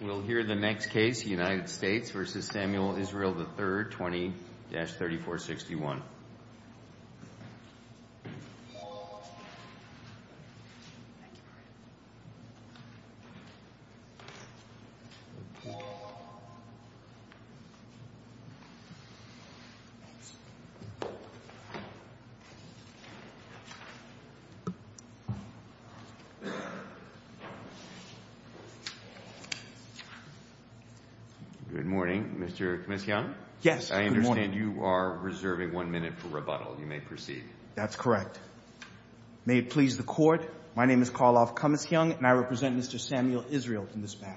We'll hear the next case, United States v. Samuel Israel III, 20-3461. Good morning, Mr. Cummings-Young. Yes, good morning. I understand you are reserving one minute for rebuttal. You may proceed. That's correct. May it please the Court, my name is Karloff Cummings-Young, and I represent Mr. Samuel Israel in this matter.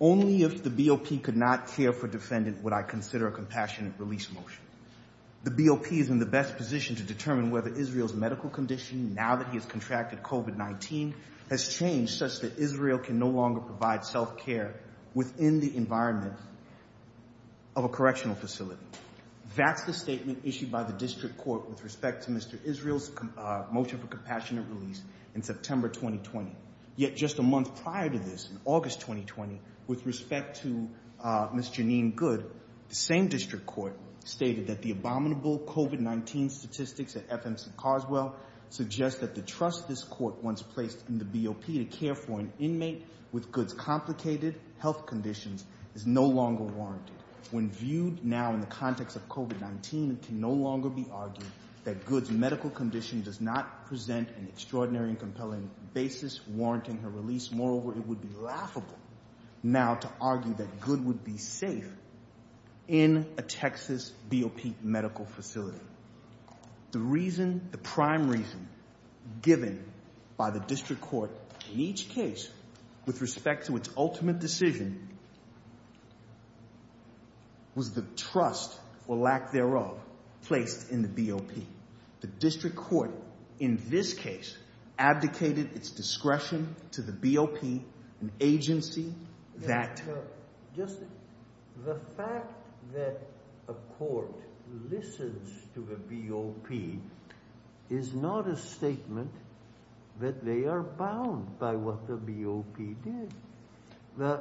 Only if the BOP could not care for defendant would I consider a compassionate release motion. The BOP is in the best position to determine whether Israel's medical condition, now that he has contracted COVID-19, has changed such that Israel can no longer provide self-care within the environment of a correctional facility. That's the statement issued by the district court with respect to Mr. Israel's motion for compassionate release in September 2020. Yet just a month prior to this, in August 2020, with respect to Ms. Janine Good, the same district court stated that the abominable COVID-19 statistics at FMC Carswell suggest that the trust this court once placed in the BOP to care for an inmate with Good's complicated health conditions is no longer warranted. When viewed now in the context of COVID-19, it can no longer be argued that Good's medical condition does not present an extraordinary and compelling basis warranting her release. Moreover, it would be laughable now to argue that Good would be safe in a Texas BOP medical facility. The reason, the prime reason given by the district court in each case with respect to its ultimate decision was the trust, or lack thereof, placed in the BOP. The district court in this case abdicated its discretion to the BOP, an agency that Just the fact that a court listens to a BOP is not a statement that they are bound by what the BOP did.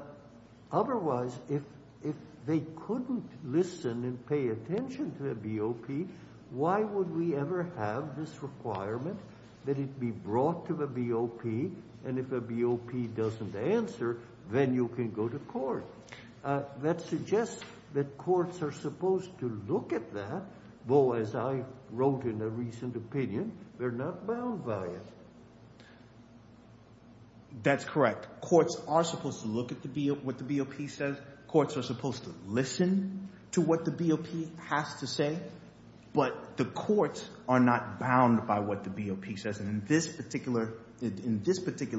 Otherwise, if they couldn't listen and pay attention to the BOP, why would we ever have this requirement that it be brought to the BOP? And if a BOP doesn't answer, then you can go to court. That suggests that courts are supposed to look at that, though, as I wrote in a recent opinion, they're not bound by it. That's correct. Courts are supposed to look at what the BOP says. Courts are supposed to listen to what the BOP has to say. But the courts are not bound by what the BOP says. And in this particular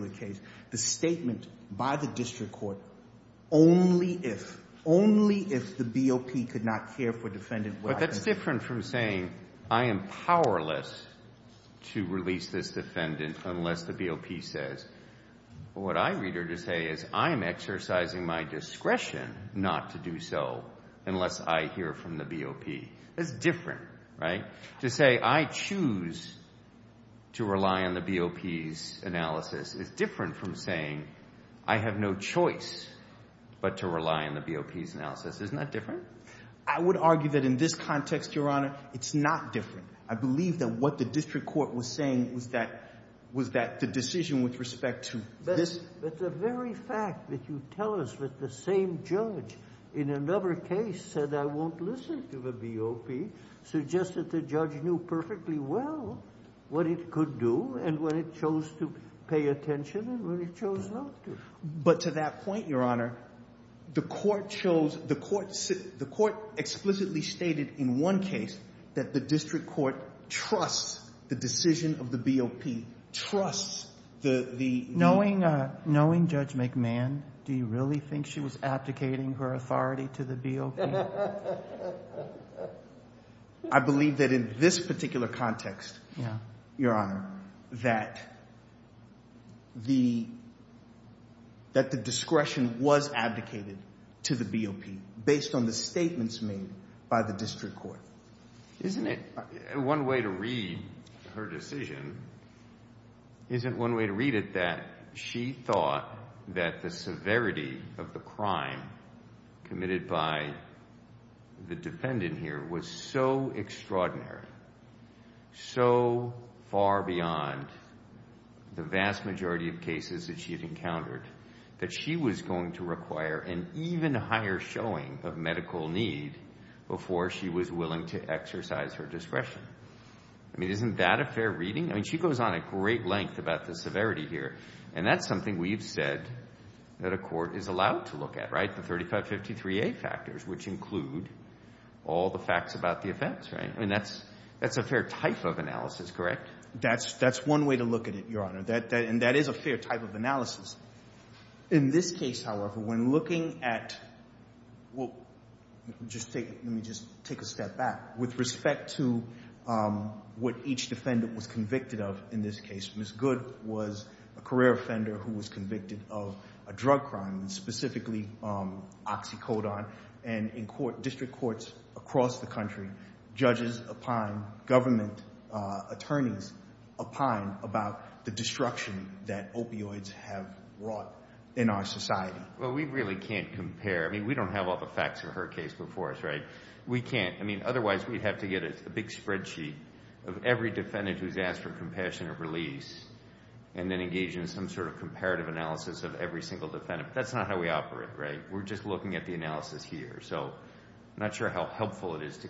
case, the statement by the district court, only if, only if the BOP could not care for defendant. But that's different from saying I am powerless to release this defendant unless the BOP says. What I read or to say is I am exercising my discretion not to do so unless I hear from the BOP. It's different, right? To say I choose to rely on the BOP's analysis is different from saying I have no choice but to rely on the BOP's analysis. Isn't that different? I would argue that in this context, Your Honor, it's not different. I believe that what the district court was saying was that the decision with respect to this. But the very fact that you tell us that the same judge in another case said I won't listen to the BOP suggests that the judge knew perfectly well what it could do and when it chose to pay attention and when it chose not to. But to that point, Your Honor, the court chose, the court explicitly stated in one case that the district court trusts the decision of the BOP, trusts the. Knowing Judge McMahon, do you really think she was abdicating her authority to the BOP? I believe that in this particular context, Your Honor, that the discretion was abdicated to the BOP based on the statements made by the district court. Isn't it, one way to read her decision, isn't one way to read it that she thought that the severity of the crime committed by the defendant here was so extraordinary, so far beyond the vast majority of cases that she had encountered, that she was going to require an even higher showing of medical need before she was willing to exercise her discretion? I mean, isn't that a fair reading? I mean, she goes on a great length about the severity here. And that's something we've said that a court is allowed to look at, right, the 3553A factors, which include all the facts about the offense, right? I mean, that's a fair type of analysis, correct? That's one way to look at it, Your Honor, and that is a fair type of analysis. In this case, however, when looking at – well, let me just take a step back. With respect to what each defendant was convicted of in this case, Ms. Good was a career offender who was convicted of a drug crime, specifically oxycodone. And in district courts across the country, judges opine, government attorneys opine about the destruction that opioids have wrought in our society. Well, we really can't compare. I mean, we don't have all the facts of her case before us, right? We can't. I mean, otherwise, we'd have to get a big spreadsheet of every defendant who's asked for compassionate release and then engage in some sort of comparative analysis of every single defendant. That's not how we operate, right? We're just looking at the analysis here. So I'm not sure how helpful it is to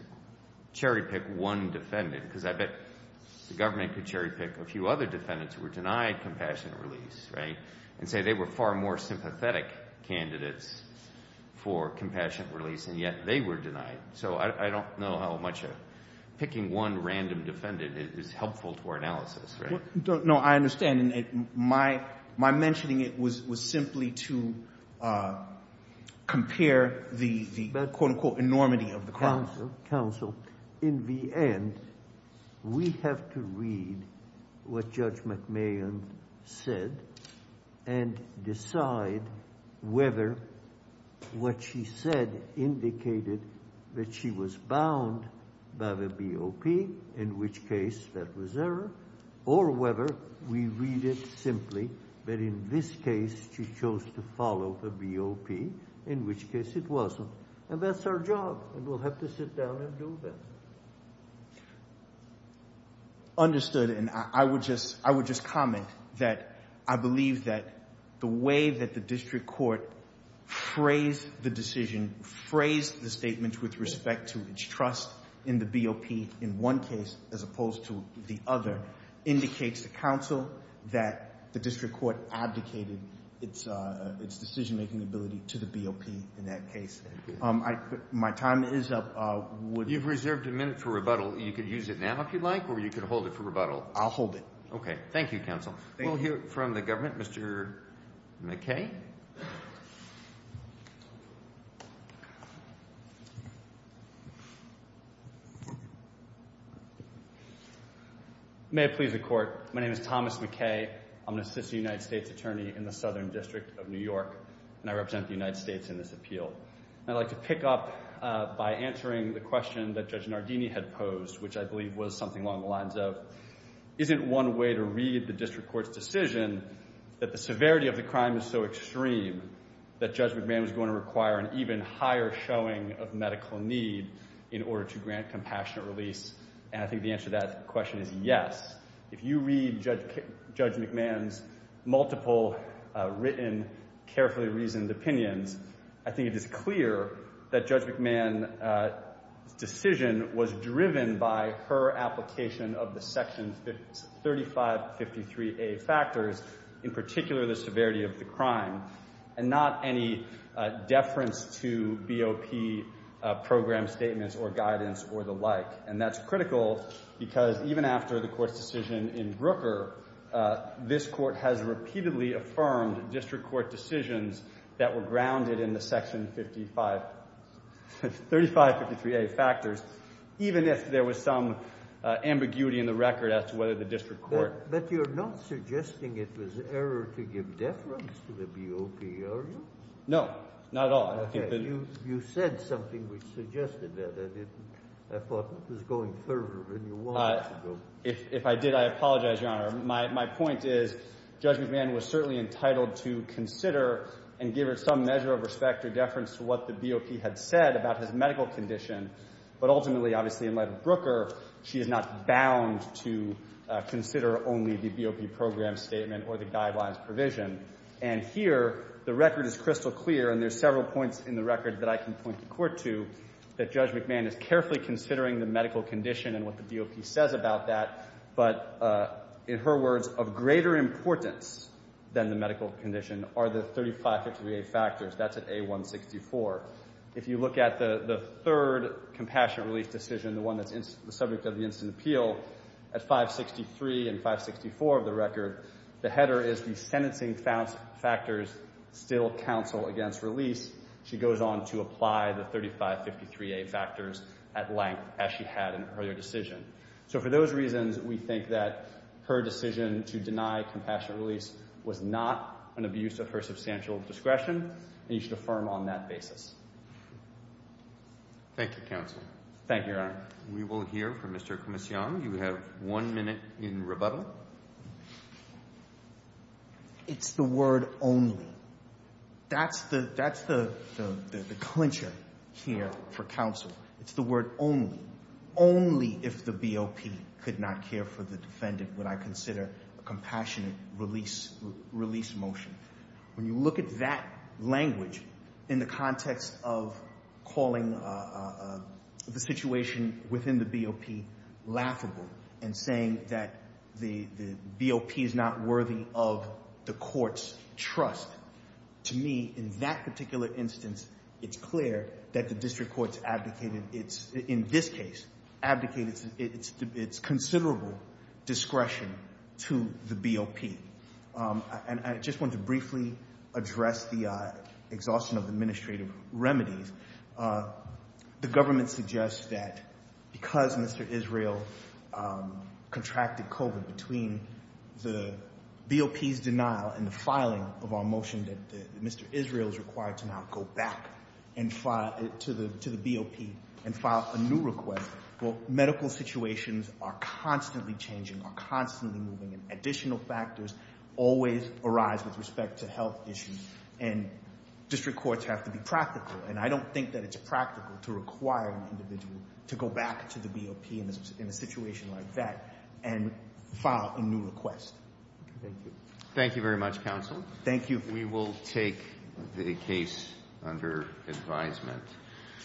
cherry-pick one defendant because I bet the government could cherry-pick a few other defendants who were denied compassionate release, right? And say they were far more sympathetic candidates for compassionate release, and yet they were denied. So I don't know how much picking one random defendant is helpful to our analysis, right? No, I understand. My mentioning it was simply to compare the, quote, unquote, enormity of the crime. In the end, we have to read what Judge McMahon said and decide whether what she said indicated that she was bound by the BOP, in which case that was error, or whether we read it simply that in this case she chose to follow the BOP, in which case it wasn't. And that's our job, and we'll have to sit down and do that. Understood, and I would just comment that I believe that the way that the district court phrased the decision, phrased the statement with respect to its trust in the BOP in one case as opposed to the other indicates to counsel that the district court abdicated its decision-making ability to the BOP in that case. My time is up. You've reserved a minute for rebuttal. You could use it now if you'd like, or you could hold it for rebuttal. I'll hold it. Okay. Thank you, counsel. We'll hear from the government. Mr. McKay? May it please the Court. My name is Thomas McKay. I'm an assistant United States attorney in the Southern District of New York, and I represent the United States in this appeal. And I'd like to pick up by answering the question that Judge Nardini had posed, which I believe was something along the lines of, isn't one way to read the district court's decision that the severity of the crime is so extreme that Judge McMahon is going to require an even higher showing of medical need in order to grant compassionate release? And I think the answer to that question is yes. If you read Judge McMahon's multiple written, carefully reasoned opinions, I think it is clear that Judge McMahon's decision was driven by her application of the Section 3553A factors, in particular the severity of the crime, and not any deference to BOP program statements or guidance or the like. And that's critical because even after the Court's decision in Brooker, this Court has repeatedly affirmed district court decisions that were grounded in the Section 3553A factors, even if there was some ambiguity in the record as to whether the district court… But you're not suggesting it was error to give deference to the BOP, are you? No. Not at all. Okay. You said something which suggested that. I didn't. I thought it was going further than you wanted it to go. If I did, I apologize, Your Honor. My point is Judge McMahon was certainly entitled to consider and give her some measure of respect or deference to what the BOP had said about his medical condition. But ultimately, obviously, in light of Brooker, she is not bound to consider only the BOP program statement or the guidelines provision. And here, the record is crystal clear, and there's several points in the record that I can point the Court to, that Judge McMahon is carefully considering the medical condition and what the BOP says about that. But in her words, of greater importance than the medical condition are the 3553A factors. That's at A164. If you look at the third compassionate release decision, the one that's the subject of the instant appeal, at 563 and 564 of the record, the header is the sentencing factors still counsel against release. She goes on to apply the 3553A factors at length as she had in her earlier decision. So for those reasons, we think that her decision to deny compassionate release was not an abuse of her substantial discretion, and you should affirm on that basis. Thank you, counsel. Thank you, Your Honor. We will hear from Mr. Comision. You have one minute in rebuttal. It's the word only. That's the clincher here for counsel. It's the word only. Only if the BOP could not care for the defendant would I consider a compassionate release motion. When you look at that language in the context of calling the situation within the BOP laughable and saying that the BOP is not worthy of the court's trust, to me, in that particular instance, it's clear that the district court's abdicated, in this case, abdicated its considerable discretion to the BOP. And I just want to briefly address the exhaustion of administrative remedies. The government suggests that because Mr. Israel contracted COVID between the BOP's denial and the filing of our motion that Mr. Israel is required to now go back to the BOP and file a new request, well, medical situations are constantly changing, are constantly moving, and additional factors always arise with respect to health issues, and district courts have to be practical. And I don't think that it's practical to require an individual to go back to the BOP in a situation like that and file a new request. Thank you. Thank you very much, counsel. Thank you. We will take the case under advisement.